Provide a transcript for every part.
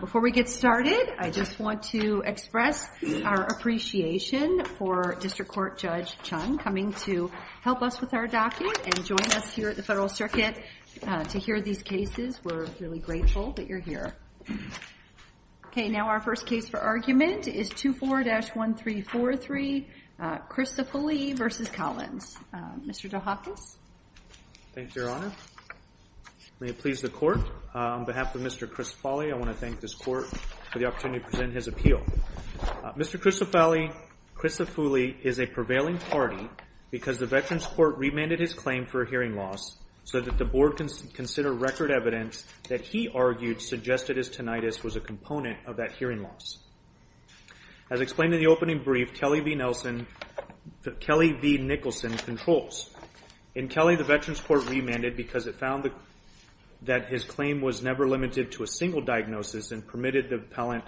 Before we get started, I just want to express our appreciation for District Court Judge Chun coming to help us with our docket and join us here at the Federal Circuit to hear these cases. We're really grateful that you're here. Okay, now our first case for argument is 24-1343, Crisafulli v. Collins. Mr. DeHakis? Thank you, Your Honor. May it please the Court. On behalf of Mr. Crisafulli, I want to thank this Court for the opportunity to present his appeal. Mr. Crisafulli is a prevailing party because the Veterans Court remanded his claim for hearing loss so that the Board can consider record evidence that he argued suggested his tinnitus was a component of that hearing loss. As explained in the opening brief, Kelly v. Nicholson controls. In Kelly, the Veterans Court remanded because it found that his claim was never limited to a single diagnosis and permitted the appellant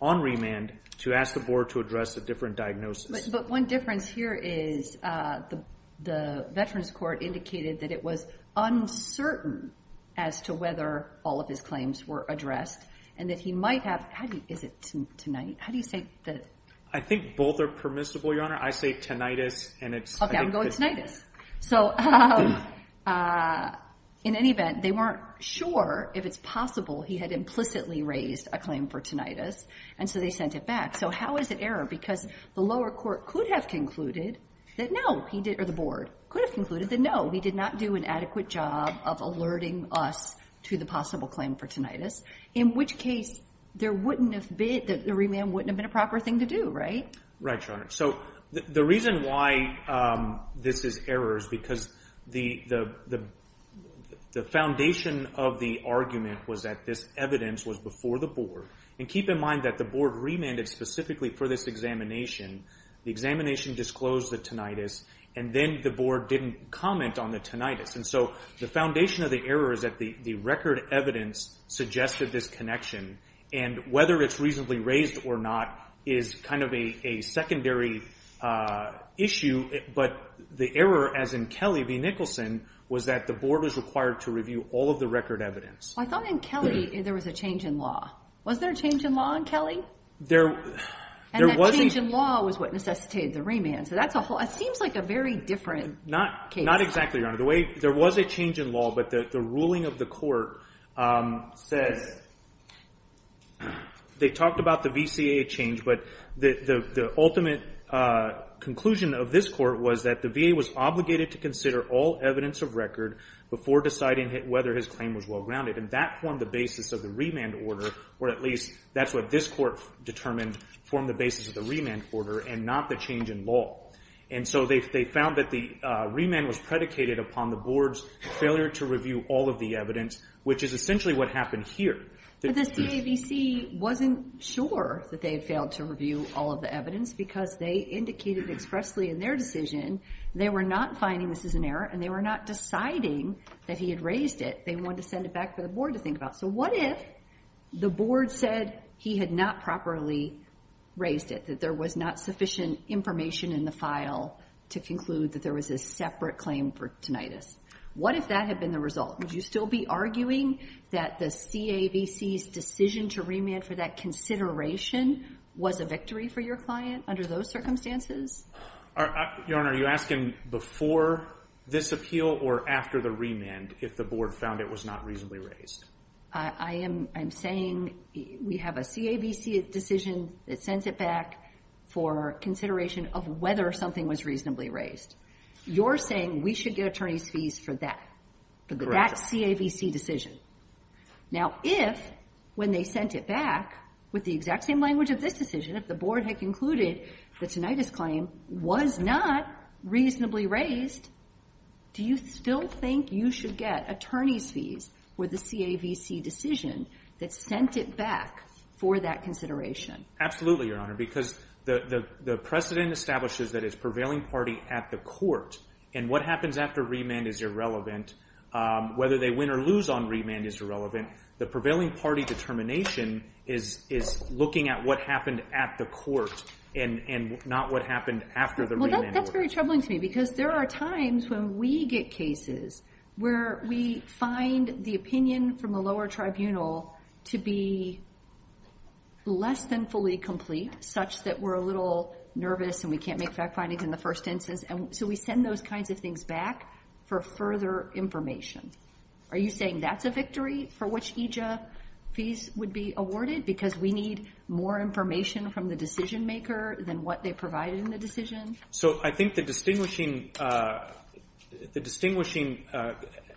on remand to ask the Board to address a different diagnosis. But one difference here is the Veterans Court indicated that it was uncertain as to whether all of his claims were addressed and that he might have, is it tinnitus? How do you say that? I think both are permissible, Your Honor. I say tinnitus. Okay, I'm going tinnitus. So in any event, they weren't sure if it's possible he had implicitly raised a claim for tinnitus, and so they sent it back. So how is it error? Because the lower court could have concluded that no, he did, or the Board could have concluded that no, he did not do an adequate job of alerting us to the possible claim for tinnitus, in which case there wouldn't have been, the remand wouldn't have been a proper thing to do, right? Right, Your Honor. So the reason why this is error is because the foundation of the argument was that this evidence was before the Board, and keep in mind that the Board remanded specifically for this examination, the examination disclosed the tinnitus, and then the Board didn't comment on the tinnitus. And so the foundation of the error is that the record evidence suggested this connection, and whether it's reasonably raised or not is kind of a secondary issue. But the error, as in Kelly v. Nicholson, was that the Board was required to review all of the record evidence. Well, I thought in Kelly there was a change in law. Wasn't there a change in law in Kelly? There wasn't. And that change in law was what necessitated the remand, so that seems like a very different case. Not exactly, Your Honor. There was a change in law, but the ruling of the court says, they talked about the VCA change, but the ultimate conclusion of this court was that the VA was obligated to consider all evidence of record before deciding whether his claim was well-grounded, and that formed the basis of the remand order, or at least that's what this court determined formed the basis of the remand order and not the change in law. And so they found that the remand was predicated upon the Board's failure to review all of the evidence, which is essentially what happened here. But the CAVC wasn't sure that they had failed to review all of the evidence, because they indicated expressly in their decision they were not finding this as an error, and they were not deciding that he had raised it. They wanted to send it back for the Board to think about. So what if the Board said he had not properly raised it, that there was not sufficient information in the file to conclude that there was a separate claim for tinnitus? What if that had been the result? Would you still be arguing that the CAVC's decision to remand for that consideration was a victory for your client under those circumstances? Your Honor, are you asking before this appeal or after the remand if the Board found it was not reasonably raised? I am saying we have a CAVC decision that sends it back for consideration of whether something was reasonably raised. You're saying we should get attorney's fees for that, for that CAVC decision. Now if, when they sent it back with the exact same language of this decision, if the Board had concluded the tinnitus claim was not reasonably raised, do you still think you should get attorney's fees for the CAVC decision that sent it back for that consideration? Absolutely, Your Honor, because the precedent establishes that it's prevailing party at the court, and what happens after remand is irrelevant, whether they win or lose on remand is irrelevant. The prevailing party determination is looking at what happened at the court and not what happened after the remand. That's very troubling to me because there are times when we get cases where we find the opinion from the lower tribunal to be less than fully complete, such that we're a little nervous and we can't make fact findings in the first instance, and so we send those kinds of things back for further information. Are you saying that's a victory for which EJIA fees would be awarded because we need more information from the decision maker than what they provided in the decision? I think the distinguishing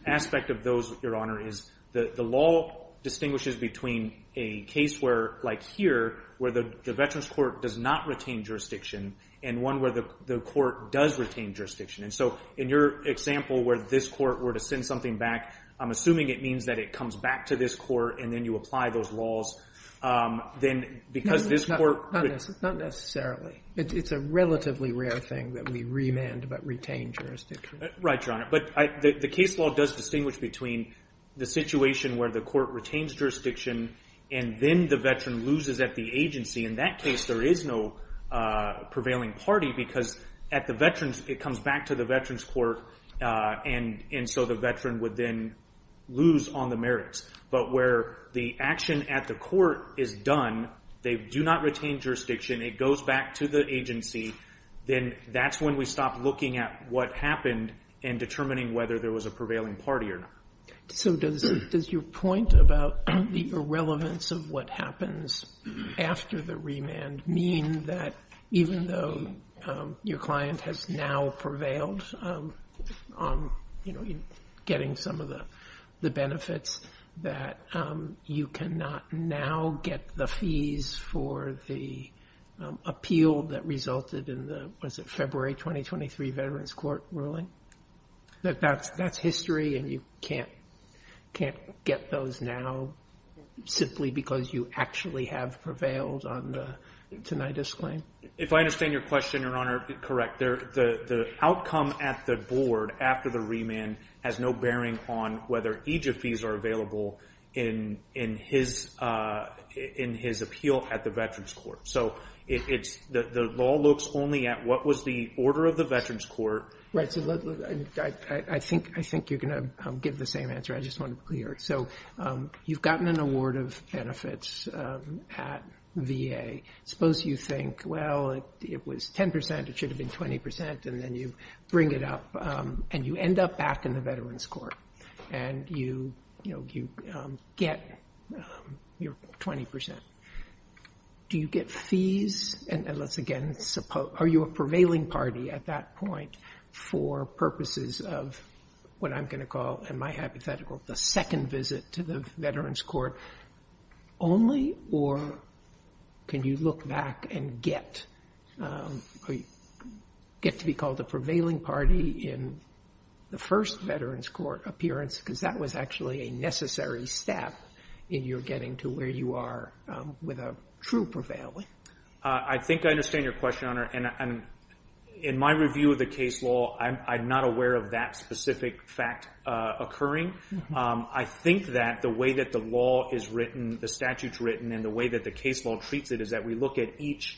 aspect of those, Your Honor, is the law distinguishes between a case where, like here, where the Veterans Court does not retain jurisdiction, and one where the court does retain jurisdiction. In your example where this court were to send something back, I'm assuming it means that it comes back to this court and then you apply those laws, then because this court... That's a rare thing that we remand but retain jurisdiction. Right, Your Honor. But the case law does distinguish between the situation where the court retains jurisdiction and then the veteran loses at the agency. In that case, there is no prevailing party because at the veterans, it comes back to the Veterans Court, and so the veteran would then lose on the merits. But where the action at the court is done, they do not retain jurisdiction, it goes back to the agency, then that's when we stop looking at what happened and determining whether there was a prevailing party or not. So does your point about the irrelevance of what happens after the remand mean that even though your client has now prevailed on getting some of the benefits that you cannot now get the fees for the appeal that resulted in the, was it February 2023 Veterans Court ruling? That that's history and you can't get those now simply because you actually have prevailed on the tinnitus claim? If I understand your question, Your Honor, correct. The outcome at the board after the remand has no bearing on whether each of these are available in his appeal at the Veterans Court. So it's, the law looks only at what was the order of the Veterans Court. Right. So I think you're going to give the same answer, I just want to be clear. So you've gotten an award of benefits at VA. Suppose you think, well, it was 10%, it should have been 20% and then you bring it up and you end up back in the Veterans Court and you get your 20%. Do you get fees and let's again, are you a prevailing party at that point for purposes of what I'm going to call, in my hypothetical, the second visit to the Veterans Court only or can you look back and get to be called a prevailing party in the first Veterans Court appearance because that was actually a necessary step in your getting to where you are with a true prevailing? I think I understand your question, Your Honor. In my review of the case law, I'm not aware of that specific fact occurring. I think that the way that the law is written, the statutes written and the way that the case law treats it is that we look at each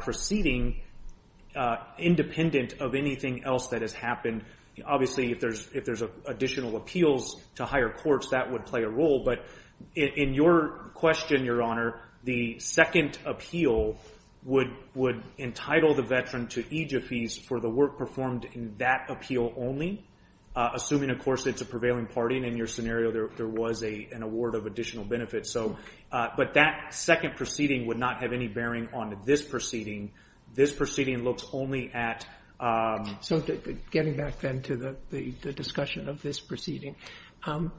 proceeding independent of anything else that has happened. Obviously, if there's additional appeals to higher courts, that would play a role. But in your question, Your Honor, the second appeal would entitle the veteran to EJF fees for the work performed in that appeal only, assuming, of course, it's a prevailing party and in your scenario, there was an award of additional benefits. But that second proceeding would not have any bearing on this proceeding. This proceeding looks only at... So getting back then to the discussion of this proceeding,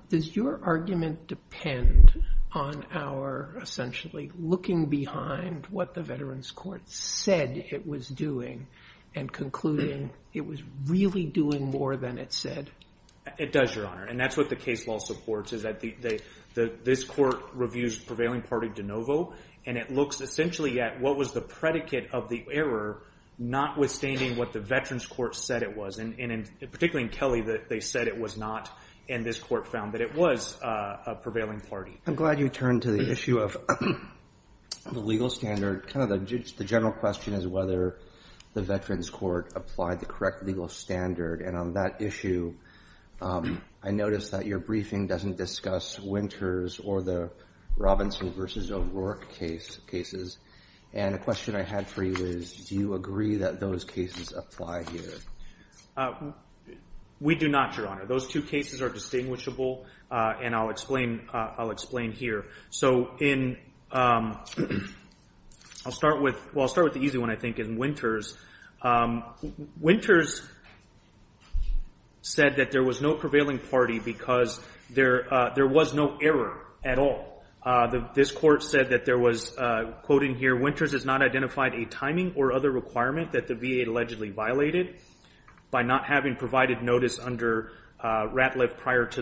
does your argument depend on our essentially looking behind what the Veterans Court said it was doing and concluding it was really doing more than it said? It does, Your Honor. And that's what the case law supports, is that this court reviews prevailing party de novo and it looks essentially at what was the predicate of the error, notwithstanding what the Veterans Court said it was, and particularly in Kelly, they said it was not and this court found that it was a prevailing party. I'm glad you turned to the issue of the legal standard. The general question is whether the Veterans Court applied the correct legal standard and on that issue, I noticed that your briefing doesn't discuss Winters or the Robinson versus O'Rourke cases and a question I had for you is, do you agree that those cases apply here? We do not, Your Honor. Those two cases are distinguishable and I'll explain here. So I'll start with the easy one, I think, in Winters. Winters said that there was no prevailing party because there was no error at all. This court said that there was, quoting here, Winters has not identified a timing or other requirement that the VA allegedly violated by not having provided notice under Ratliff prior to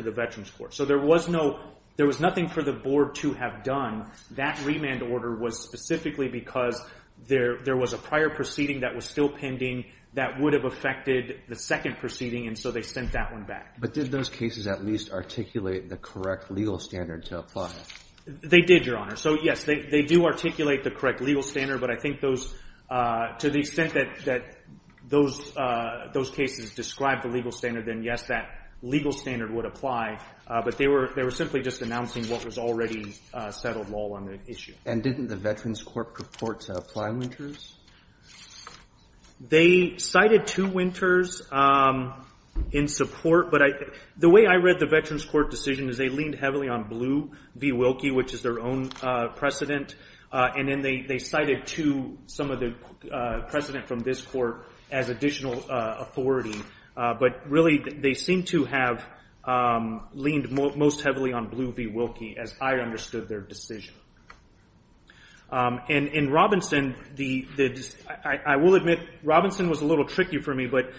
the Veterans Court. So there was nothing for the board to have done. That remand order was specifically because there was a prior proceeding that was still pending that would have affected the second proceeding and so they sent that one back. But did those cases at least articulate the correct legal standard to apply? They did, Your Honor. So yes, they do articulate the correct legal standard, but I think those, to the extent that those cases describe the legal standard, then yes, that legal standard would apply, but they were simply just announcing what was already settled law on the issue. And didn't the Veterans Court purport to apply Winters? They cited to Winters in support, but the way I read the Veterans Court decision is they leaned heavily on Blue v. Wilkie, which is their own precedent, and then they cited to some of the precedent from this court as additional authority, but really they seem to have leaned most heavily on Blue v. Wilkie as I understood their decision. In Robinson, I will admit Robinson was a little tricky for me, but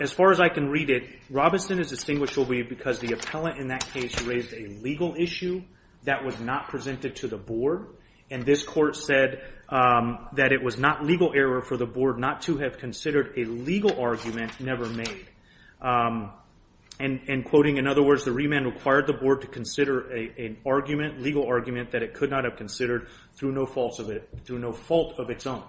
as far as I can read it, Robinson is distinguished for me because the appellant in that case raised a legal issue that was not presented to the board, and this court said that it was not legal error for the board not to have considered a legal argument never made. And quoting, in other words, the remand required the board to consider an argument, legal argument, that it could not have considered through no fault of its own.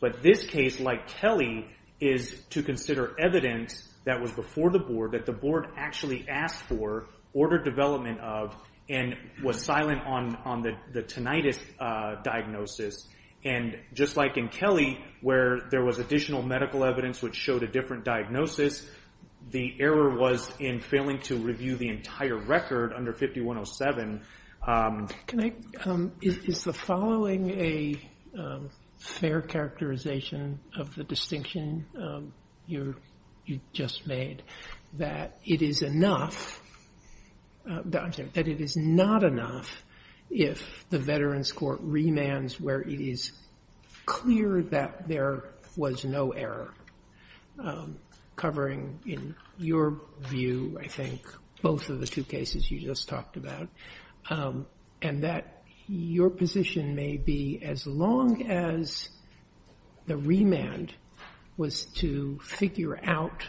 But this case, like Kelly, is to consider evidence that was before the board that the board actually asked for, ordered development of, and was silent on the tinnitus diagnosis. And just like in Kelly, where there was additional medical evidence which showed a different diagnosis, the error was in failing to review the entire record under 5107. Can I, is the following a fair characterization of the distinction you just made, that it is enough, I'm sorry, that it is not enough if the Veterans Court remands where it is clear that there was no error, covering in your view, I think, both of the two cases you just talked about, and that your position may be as long as the remand was to figure out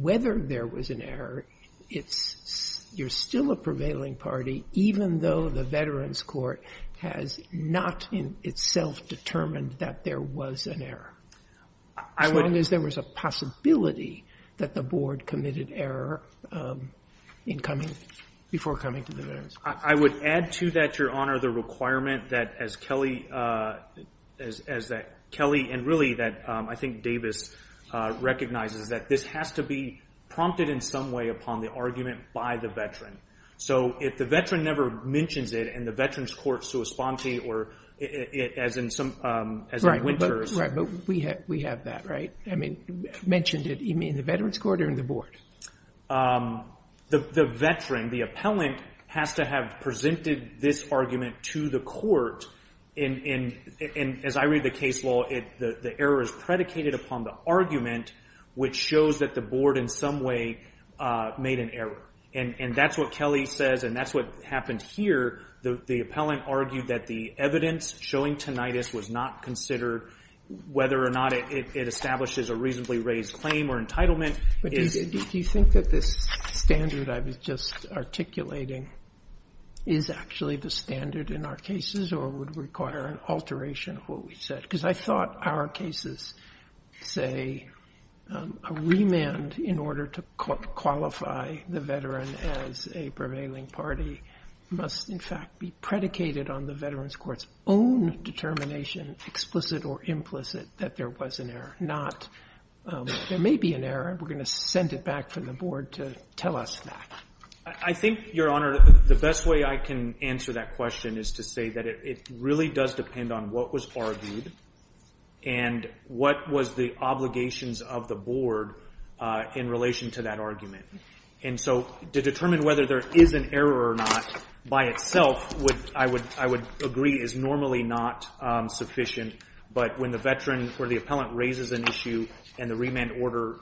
whether there was an error, it's, you're still a prevailing party even though the Veterans Court has not in itself determined that there was an error. As long as there was a possibility that the board committed error in coming, before coming to the Veterans Court. I would add to that, Your Honor, the requirement that as Kelly, as Kelly, and really that I think Davis recognizes, that this has to be prompted in some way upon the argument by the veteran. So if the veteran never mentions it, and the Veterans Court's to respond to it, or it, as in some, as in Winters. Right, but we have that, right? I mean, mentioned it, you mean in the Veterans Court or in the board? The veteran, the appellant, has to have presented this argument to the court, and as I read the case law, the error is predicated upon the argument, which shows that the board in some way made an error. And that's what Kelly says, and that's what happened here. The appellant argued that the evidence showing tinnitus was not considered, whether or not it establishes a reasonably raised claim or entitlement. But do you think that this standard I was just articulating is actually the standard in our cases, or would require an alteration of what we said? Because I thought our cases say a remand in order to qualify the veteran as a prevailing party must, in fact, be predicated on the Veterans Court's own determination, explicit or implicit, that there was an error, not, there may be an error, we're going to send it back to the board to tell us that. I think, Your Honor, the best way I can answer that question is to say that it really does depend on what was argued, and what was the obligations of the board in relation to that And so, to determine whether there is an error or not, by itself, I would agree is normally not sufficient, but when the veteran or the appellant raises an issue, and the remand order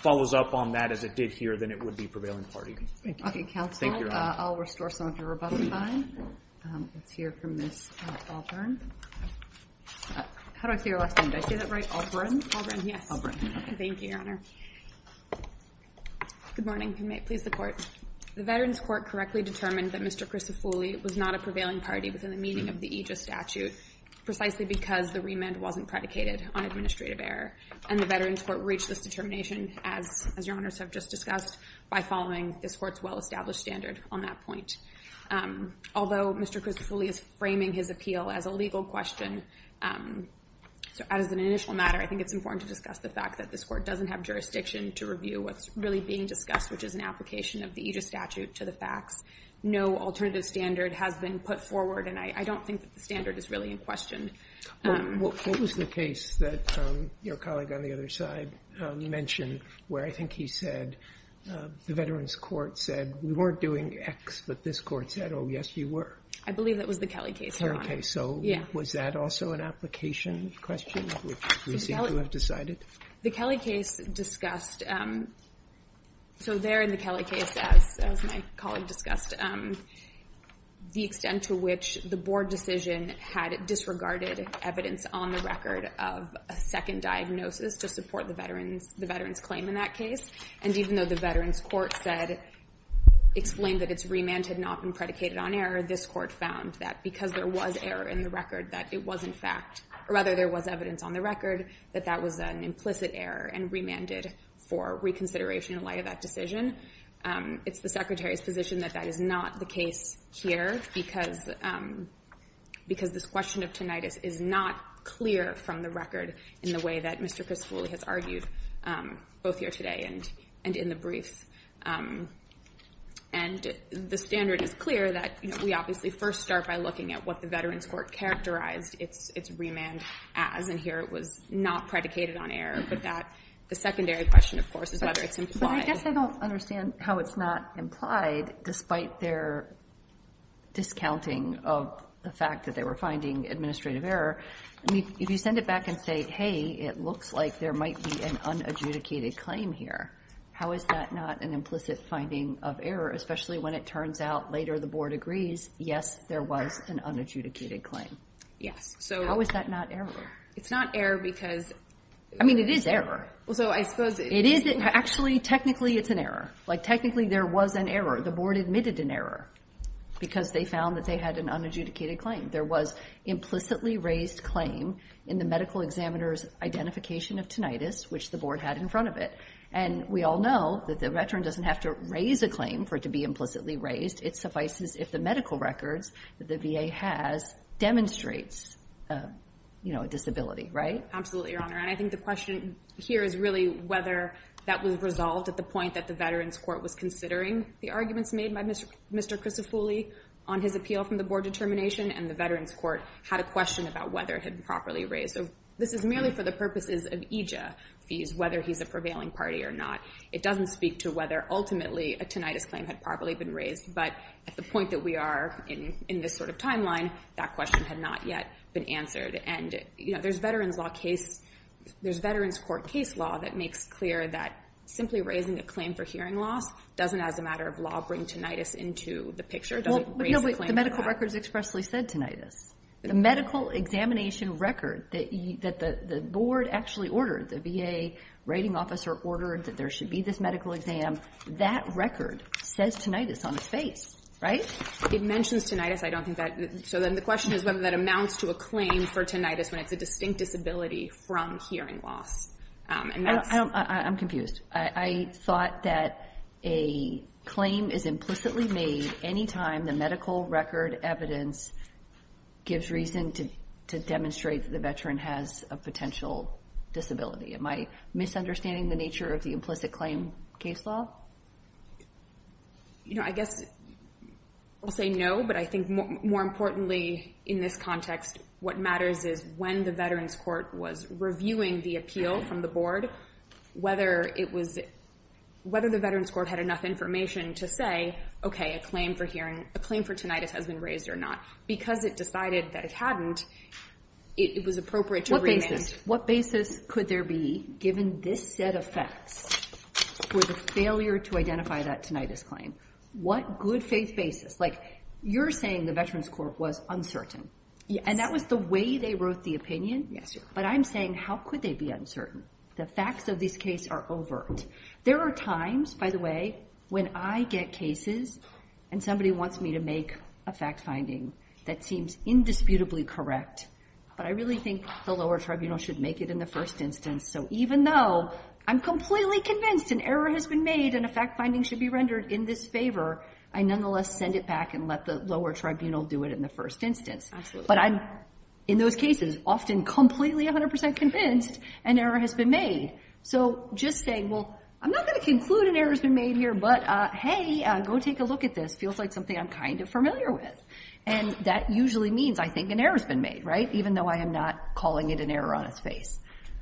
follows up on that as it did here, then it would be prevailing party. Thank you. Okay, counsel. Thank you, Your Honor. I'll restore some of your rebuttal time. Let's hear from Ms. Auburn. How do I say your last name? Did I say that right? Auburn? Auburn, yes. Auburn. Thank you, Your Honor. Good morning. May it please the Court. The Veterans Court correctly determined that Mr. Crisofulli was not a prevailing party within the meaning of the Aegis statute, precisely because the remand wasn't predicated on administrative error. And the Veterans Court reached this determination, as Your Honors have just discussed, by following this Court's well-established standard on that point. Although Mr. Crisofulli is framing his appeal as a legal question, as an initial matter, I think it's important to discuss the fact that this Court doesn't have jurisdiction to review what's really being discussed, which is an application of the Aegis statute to the facts. No alternative standard has been put forward, and I don't think that the standard is really in question. What was the case that your colleague on the other side mentioned where I think he said the Veterans Court said, we weren't doing X, but this Court said, oh, yes, you were? I believe that was the Kelly case, Your Honor. Kelly case. So was that also an application question? We seem to have decided. The Kelly case discussed, so there in the Kelly case, as my colleague discussed, the extent to which the Board decision had disregarded evidence on the record of a second diagnosis to support the Veterans claim in that case. And even though the Veterans Court said, explained that its remand had not been predicated on error, this Court found that because there was error in the record, that it was in fact, or rather there was evidence on the record that that was an implicit error and remanded for reconsideration in light of that decision. It's the Secretary's position that that is not the case here because this question of tinnitus is not clear from the record in the way that Mr. Chris Foley has argued both here today and in the briefs. And the standard is clear that we obviously first start by looking at what the Veterans Court characterized its remand as, and here it was not predicated on error, but that the secondary question, of course, is whether it's implied. But I guess I don't understand how it's not implied, despite their discounting of the fact that they were finding administrative error. I mean, if you send it back and say, hey, it looks like there might be an unadjudicated claim here, how is that not an implicit finding of error, especially when it turns out later the board agrees, yes, there was an unadjudicated claim? Yes. How is that not error? It's not error because... I mean, it is error. Well, so I suppose... It is. Actually, technically, it's an error. Like, technically, there was an error. The board admitted an error because they found that they had an unadjudicated claim. There was implicitly raised claim in the medical examiner's identification of tinnitus, which the board had in front of it. And we all know that the veteran doesn't have to raise a claim for it to be implicitly raised. It suffices if the medical records that the VA has demonstrates a disability, right? Absolutely, Your Honor. And I think the question here is really whether that was resolved at the point that the Veterans Court was considering the arguments made by Mr. Crisofulli on his appeal from the board determination. And the Veterans Court had a question about whether it had been properly raised. So this is merely for the purposes of EJIA fees, whether he's a prevailing party or not. It doesn't speak to whether, ultimately, a tinnitus claim had properly been raised. But at the point that we are in this sort of timeline, that question had not yet been And, you know, there's Veterans Court case law that makes clear that simply raising a claim for hearing loss doesn't, as a matter of law, bring tinnitus into the picture. It doesn't raise a claim for that. No, but the medical records expressly said tinnitus. The medical examination record that the board actually ordered, the VA writing officer ordered that there should be this medical exam, that record says tinnitus on its face. Right? It mentions tinnitus. I don't think that. So then the question is whether that amounts to a claim for tinnitus when it's a distinct disability from hearing loss. I'm confused. I thought that a claim is implicitly made any time the medical record evidence gives reason to demonstrate that the Veteran has a potential disability. Am I misunderstanding the nature of the implicit claim case law? You know, I guess I'll say no, but I think more importantly in this context, what matters is when the Veterans Court was reviewing the appeal from the board, whether it was, whether the Veterans Court had enough information to say, okay, a claim for hearing, a claim for tinnitus has been raised or not. Because it decided that it hadn't, it was appropriate to remand. What basis could there be given this set of facts for the failure to identify that tinnitus claim? What good faith basis? Like you're saying the Veterans Court was uncertain and that was the way they wrote the opinion. Yes. But I'm saying, how could they be uncertain? The facts of this case are overt. There are times, by the way, when I get cases and somebody wants me to make a fact finding that seems indisputably correct, but I really think the lower tribunal should make it in the first instance. So even though I'm completely convinced an error has been made and a fact finding should be rendered in this favor, I nonetheless send it back and let the lower tribunal do it in the first instance. Absolutely. But I'm, in those cases, often completely 100% convinced an error has been made. So just saying, well, I'm not going to conclude an error has been made here, but hey, go take a look at this. It feels like something I'm kind of familiar with. And that usually means I think an error has been made, right? Even though I am not calling it an error on its face.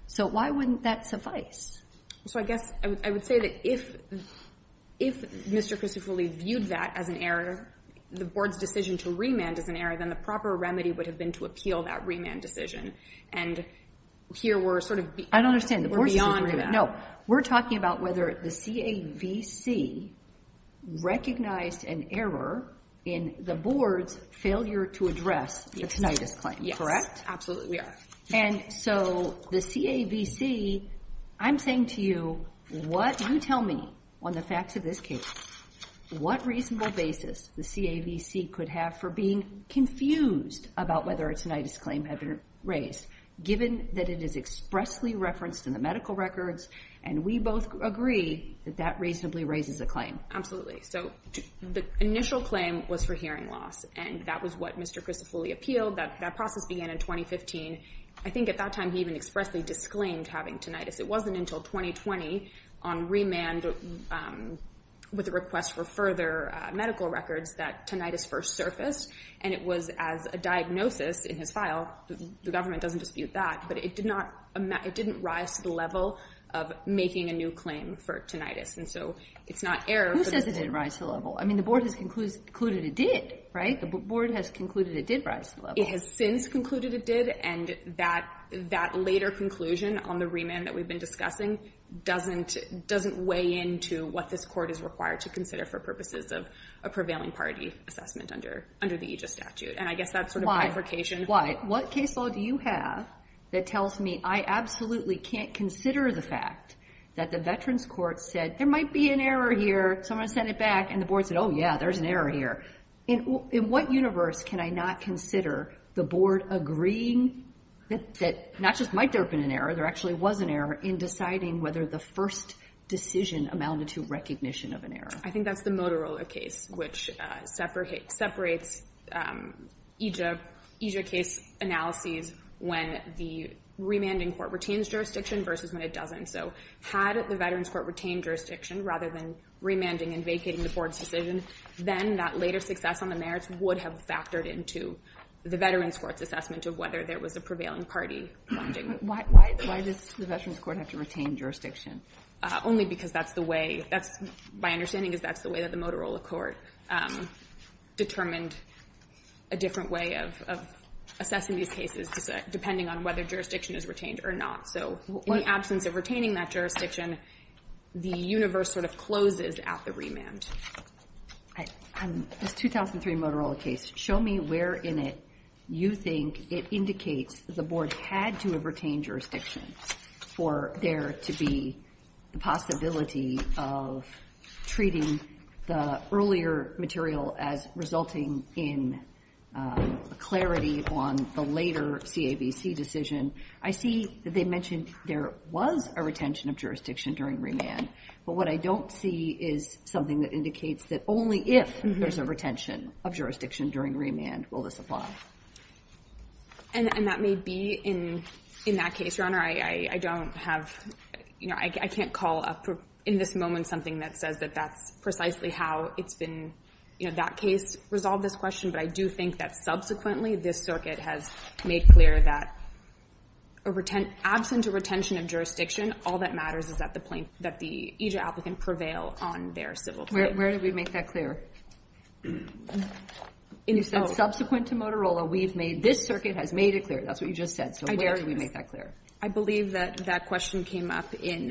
So why wouldn't that suffice? So I guess I would say that if Mr. Christopher Lee viewed that as an error, the board's decision to remand as an error, then the proper remedy would have been to appeal that remand decision. And here we're sort of beyond that. I don't understand. No. We're talking about whether the CAVC recognized an error in the board's failure to address the tinnitus claim. Absolutely. We are. And so the CAVC, I'm saying to you, what, you tell me on the facts of this case, what reasonable basis the CAVC could have for being confused about whether a tinnitus claim had been raised, given that it is expressly referenced in the medical records, and we both agree that that reasonably raises a claim. Absolutely. So the initial claim was for hearing loss, and that was what Mr. Christopher Lee appealed. That process began in 2015. I think at that time he even expressly disclaimed having tinnitus. It wasn't until 2020 on remand with a request for further medical records that tinnitus first surfaced. And it was as a diagnosis in his file. The government doesn't dispute that, but it did not, it didn't rise to the level of making a new claim for tinnitus. And so it's not error. Who says it didn't rise to the level? I mean, the board has concluded it did, right? The board has concluded it did rise to the level. It has since concluded it did, and that later conclusion on the remand that we've been discussing doesn't weigh into what this court is required to consider for purposes of a prevailing party assessment under the AEGIS statute, and I guess that's sort of bifurcation. What case law do you have that tells me I absolutely can't consider the fact that the Veterans Court said there might be an error here, so I'm going to send it back, and the board said, oh yeah, there's an error here? In what universe can I not consider the board agreeing that not just might there have been an error, there actually was an error in deciding whether the first decision amounted to recognition of an error? I think that's the Motorola case, which separates EJIA case analyses when the remanding court retains jurisdiction versus when it doesn't. So had the Veterans Court retained jurisdiction rather than remanding and vacating the board's decision, then that later success on the merits would have factored into the Veterans Court's assessment of whether there was a prevailing party finding. Why does the Veterans Court have to retain jurisdiction? Only because that's the way, that's, my understanding is that's the way that the Motorola court determined a different way of assessing these cases, depending on whether jurisdiction is retained or not. So in the absence of retaining that jurisdiction, the universe sort of closes at the remand. This 2003 Motorola case, show me where in it you think it indicates the board had to retain jurisdiction for there to be the possibility of treating the earlier material as resulting in clarity on the later CAVC decision. I see that they mentioned there was a retention of jurisdiction during remand, but what I don't see is something that indicates that only if there's a retention of jurisdiction during remand will this apply. And that may be in that case, Your Honor. I don't have, you know, I can't call up in this moment something that says that that's precisely how it's been, you know, that case resolved this question, but I do think that subsequently this circuit has made clear that absent a retention of jurisdiction, all that matters is that the plaintiff, that the EJ applicant prevail on their civil claim. Where did we make that clear? And you said subsequent to Motorola, we've made, this circuit has made it clear. That's what you just said. So where did we make that clear? I believe that that question came up in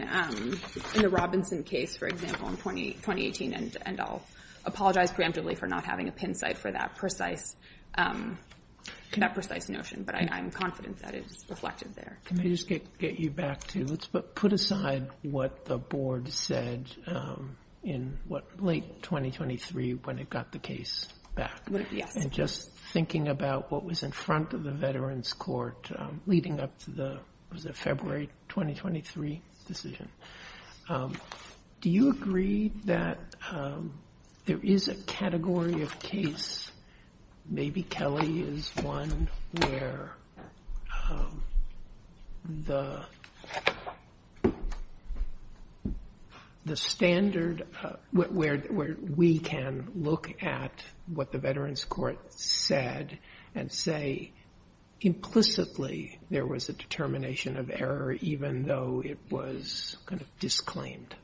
the Robinson case, for example, in 2018, and I'll apologize preemptively for not having a pin site for that precise, that precise notion, but I'm confident that it's reflected there. Can I just get you back to, let's put aside what the board said in what, late 2023, when it got the case back, and just thinking about what was in front of the Veterans Court leading up to the, was it February 2023 decision. Do you agree that there is a category of case? Maybe Kelly is one where the standard, where we can look at what the Veterans Court said and say implicitly there was a determination of error, even though it was kind of disclaimed.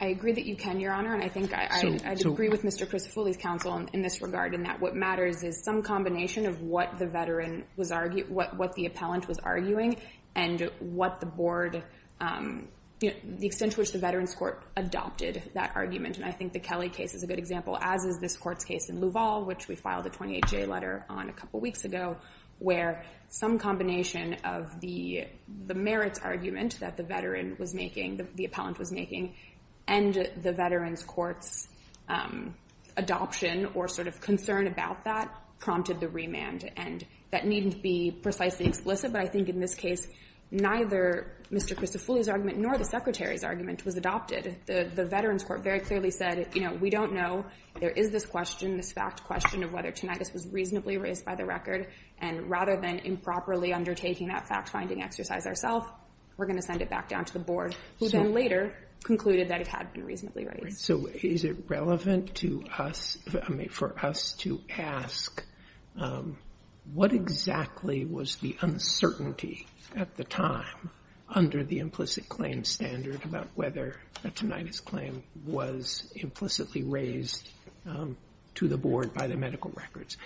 I agree that you can, Your Honor, and I think I'd agree with Mr. Foley's counsel in this regard, in that what matters is some combination of what the veteran was arguing, what the appellant was arguing, and what the board, the extent to which the Veterans Court adopted that argument, and I think the Kelly case is a good example, as is this court's case in Louisville, which we filed a 28-J letter on a couple weeks ago, where some combination of the merits argument that the veteran was making, the appellant was making, and the Veterans Court's adoption or sort of concern about that prompted the remand, and that needn't be precisely explicit, but I think in this case, neither Mr. Christopher's argument nor the Secretary's argument was adopted. The Veterans Court very clearly said, you know, we don't know, there is this question, this fact question of whether tinnitus was reasonably raised by the record, and rather than improperly undertaking that fact-finding exercise ourself, we're going to send it back on to the board, who then later concluded that it had been reasonably raised. So is it relevant to us, I mean, for us to ask what exactly was the uncertainty at the time under the implicit claim standard about whether a tinnitus claim was implicitly raised to the board by the medical records,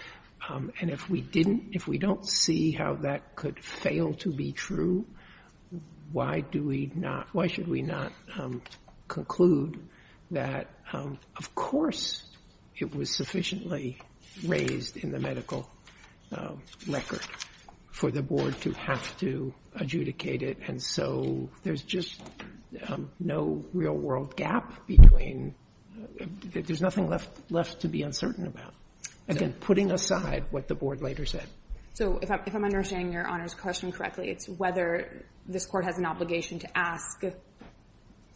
and if we didn't, if we don't see how that could fail to be true, why do we not, why should we not conclude that, of course, it was sufficiently raised in the medical record for the board to have to adjudicate it, and so there's just no real-world gap between, there's nothing left to be uncertain about, again, putting aside what the board later said. So if I'm understanding Your Honor's question correctly, it's whether this Court has an obligation to ask,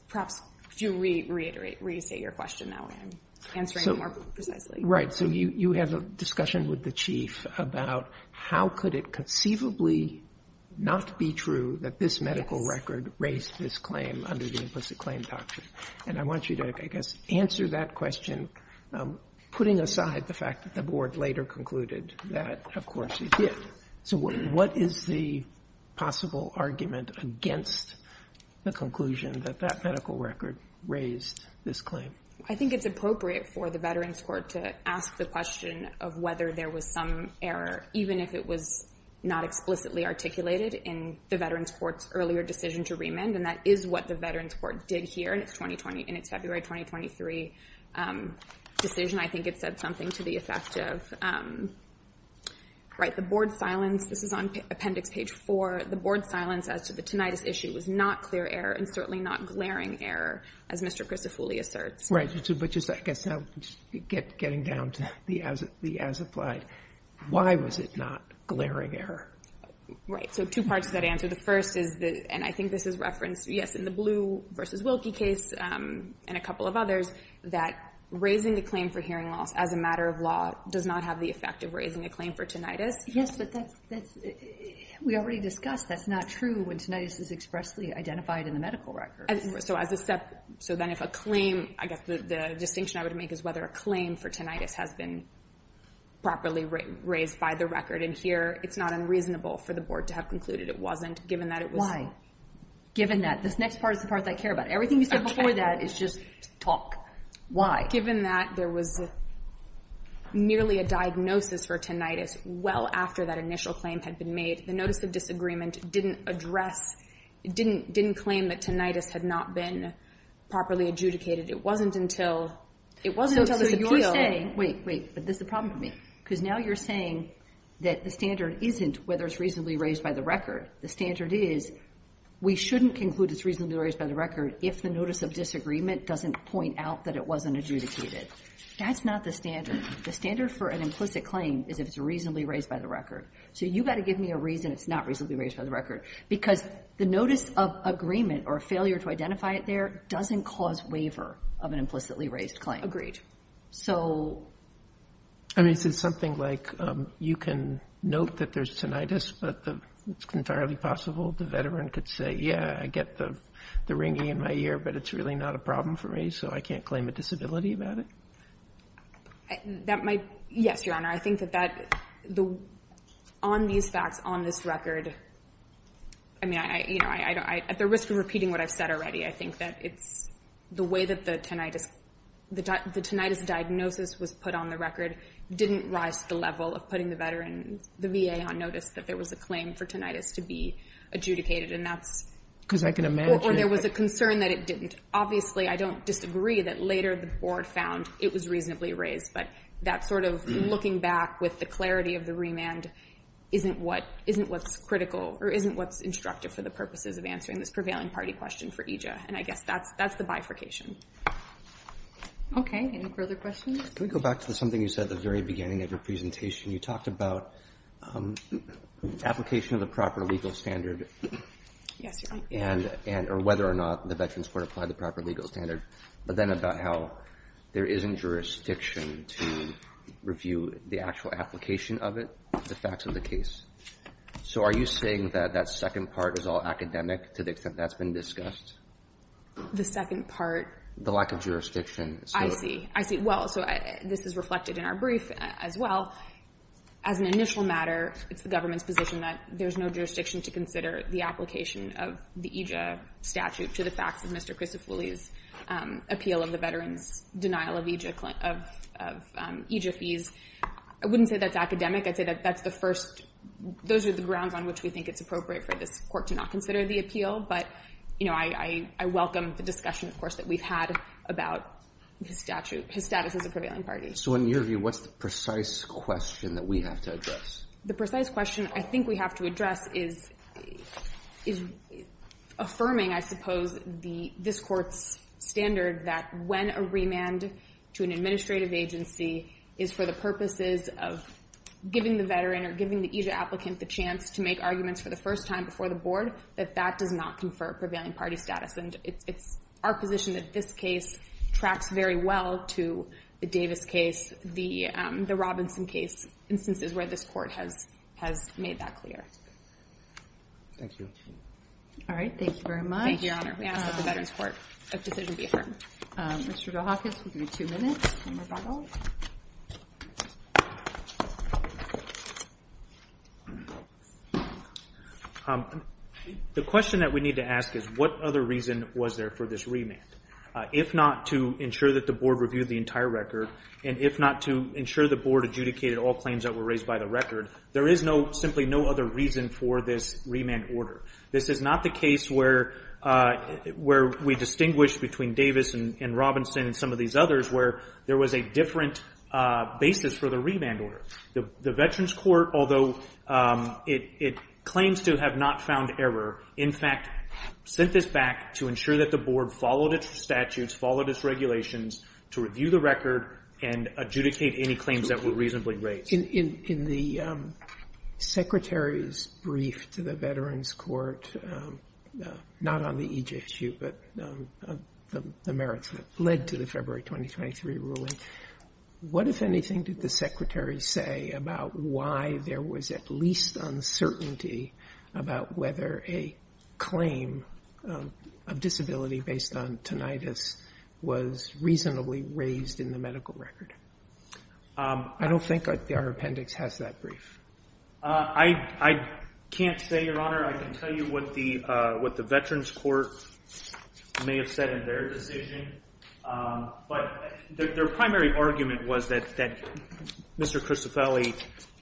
perhaps, could you reiterate, restate your question that way, I'm answering it more precisely. Right. So you have a discussion with the Chief about how could it conceivably not be true that this medical record raised this claim under the implicit claim doctrine, and I want you to, I guess, answer that question, putting aside the fact that the board later concluded that, of course, it did. So what is the possible argument against the conclusion that that medical record raised this claim? I think it's appropriate for the Veterans Court to ask the question of whether there was some error, even if it was not explicitly articulated in the Veterans Court's earlier decision to remand, and that is what the Veterans Court did here in its February 2023 decision. I think it said something to the effect of, right, the board's silence, this is on Appendix Page 4, the board's silence as to the tinnitus issue was not clear error and certainly not glaring error, as Mr. Crisofulli asserts. Right. But just, I guess, getting down to the as-applied, why was it not glaring error? Right. So two parts to that answer. The first is, and I think this is referenced, yes, in the Blue v. Wilkie case and a couple of others, that raising the claim for hearing loss as a matter of law does not have the effect of raising a claim for tinnitus. Yes, but that's, we already discussed that's not true when tinnitus is expressly identified in the medical record. So as a step, so then if a claim, I guess the distinction I would make is whether a claim for tinnitus has been properly raised by the record, and here it's not unreasonable for the board to have concluded it wasn't, given that it was... Given that. This next part is the part that I care about. Everything you said before that is just talk. Given that there was nearly a diagnosis for tinnitus well after that initial claim had been made, the notice of disagreement didn't address, didn't claim that tinnitus had not been properly adjudicated. It wasn't until, it wasn't until this appeal... So you're saying, wait, wait, but this is a problem for me, because now you're saying that the standard isn't whether it's reasonably raised by the record. The standard is we shouldn't conclude it's reasonably raised by the record if the notice of disagreement doesn't point out that it wasn't adjudicated. That's not the standard. The standard for an implicit claim is if it's reasonably raised by the record. So you've got to give me a reason it's not reasonably raised by the record, because the notice of agreement or failure to identify it there doesn't cause waiver of an implicitly raised claim. Agreed. So... I mean, is it something like you can note that there's tinnitus, but it's entirely possible the veteran could say, yeah, I get the ringing in my ear, but it's really not a problem for me, so I can't claim a disability about it? That might, yes, Your Honor. I think that that, on these facts, on this record, I mean, you know, at the risk of repeating what I've said already, I think that it's the way that the tinnitus, the tinnitus diagnosis was put on the record, didn't rise to the level of putting the veteran, the VA on notice that there was a claim for tinnitus to be adjudicated, and that's... Because I can imagine... Or there was a concern that it didn't. Obviously, I don't disagree that later the board found it was reasonably raised, but that sort of looking back with the clarity of the remand isn't what's critical or isn't what's instructive for the purposes of answering this prevailing party question for EJA, and I guess that's the bifurcation. Okay, any further questions? Can we go back to something you said at the very beginning of your presentation? You talked about application of the proper legal standard, or whether or not the veterans were to apply the proper legal standard, but then about how there isn't jurisdiction to review the actual application of it, the facts of the case. So, are you saying that that second part is all academic to the extent that's been discussed? The second part... The lack of jurisdiction. I see. I see. Well, so this is reflected in our brief as well. As an initial matter, it's the government's position that there's no jurisdiction to consider the application of the EJA statute to the facts of Mr. Christofulli's appeal of the veterans' denial of EJA fees. I wouldn't say that's academic. I'd say that that's the first... Those are the grounds on which we think it's appropriate for this court to not consider the appeal, but I welcome the discussion, of course, that we've had about his status as a prevailing party. So in your view, what's the precise question that we have to address? The precise question I think we have to address is affirming, I suppose, this court's standard that when a remand to an administrative agency is for the purposes of giving the veteran or giving the EJA applicant the chance to make arguments for the first time before the board, that that does not confer prevailing party status. And it's our position that this case tracks very well to the Davis case, the Robinson case, instances where this court has made that clear. Thank you. All right. Thank you very much. Thank you, Your Honor. We ask that the Veterans Court of Decision be affirmed. Mr. Vilhakis, we'll give you two minutes. One more follow-up. All right. The question that we need to ask is, what other reason was there for this remand? If not to ensure that the board reviewed the entire record, and if not to ensure the board adjudicated all claims that were raised by the record, there is simply no other reason for this remand order. This is not the case where we distinguished between Davis and Robinson and some of these others where there was a different basis for the remand order. The Veterans Court, although it claims to have not found error, in fact, sent this back to ensure that the board followed its statutes, followed its regulations to review the record and adjudicate any claims that were reasonably raised. In the Secretary's brief to the Veterans Court, not on the EJSU, but the merits that are in the February 2023 ruling, what, if anything, did the Secretary say about why there was at least uncertainty about whether a claim of disability based on tinnitus was reasonably raised in the medical record? I don't think our appendix has that brief. I can't say, Your Honor. I can tell you what the Veterans Court may have said in their decision. But their primary argument was that Mr. Cristofelli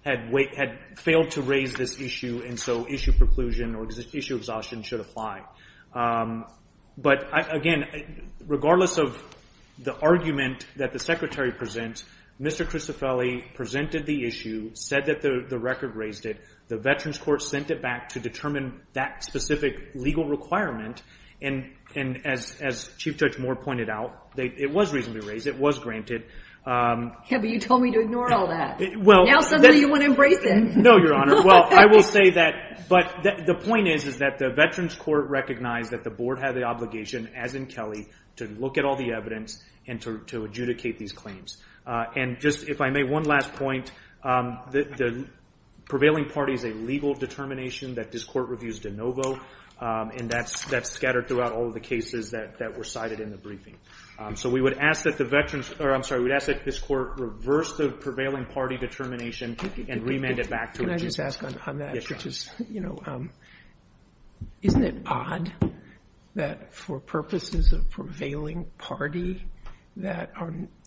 had failed to raise this issue, and so issue preclusion or issue exhaustion should apply. But again, regardless of the argument that the Secretary presents, Mr. Cristofelli presented the issue, said that the record raised it. The Veterans Court sent it back to determine that specific legal requirement. And as Chief Judge Moore pointed out, it was reasonably raised. It was granted. Yeah, but you told me to ignore all that. Well, now suddenly you want to embrace it. No, Your Honor. Well, I will say that. But the point is that the Veterans Court recognized that the board had the obligation, as in Kelly, to look at all the evidence and to adjudicate these claims. And just, if I may, one last point. The prevailing party is a legal determination that this court reviews de novo. And that's scattered throughout all of the cases that were cited in the briefing. So we would ask that the Veterans, or I'm sorry, we would ask that this court reverse the prevailing party determination and remand it back to it. Can I just ask on that, which is, you know, isn't it odd that for purposes of prevailing party, that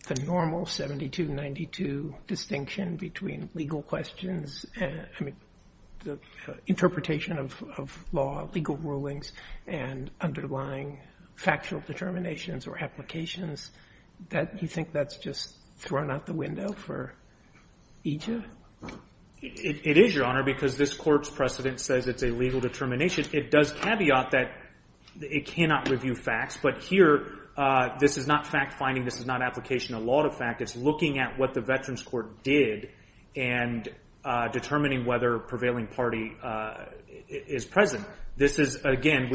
the normal 72-92 distinction between legal questions and, I mean, interpretation of law, legal rulings, and underlying factual determinations or applications, that you think that's just thrown out the window for each of? It is, Your Honor, because this court's precedent says it's a legal determination. It does caveat that it cannot review facts. But here, this is not fact-finding. This is not application of law to fact. It's looking at what the Veterans Court did and determining whether prevailing party is present. This is, again,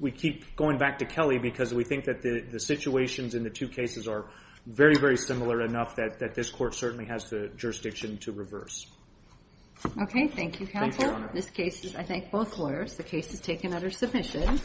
we keep going back to Kelly because we think that the situations in the two cases are very, very similar enough that this court certainly has the jurisdiction to reverse. Okay. Thank you, counsel. This case is, I thank both lawyers. The case is taken under submission.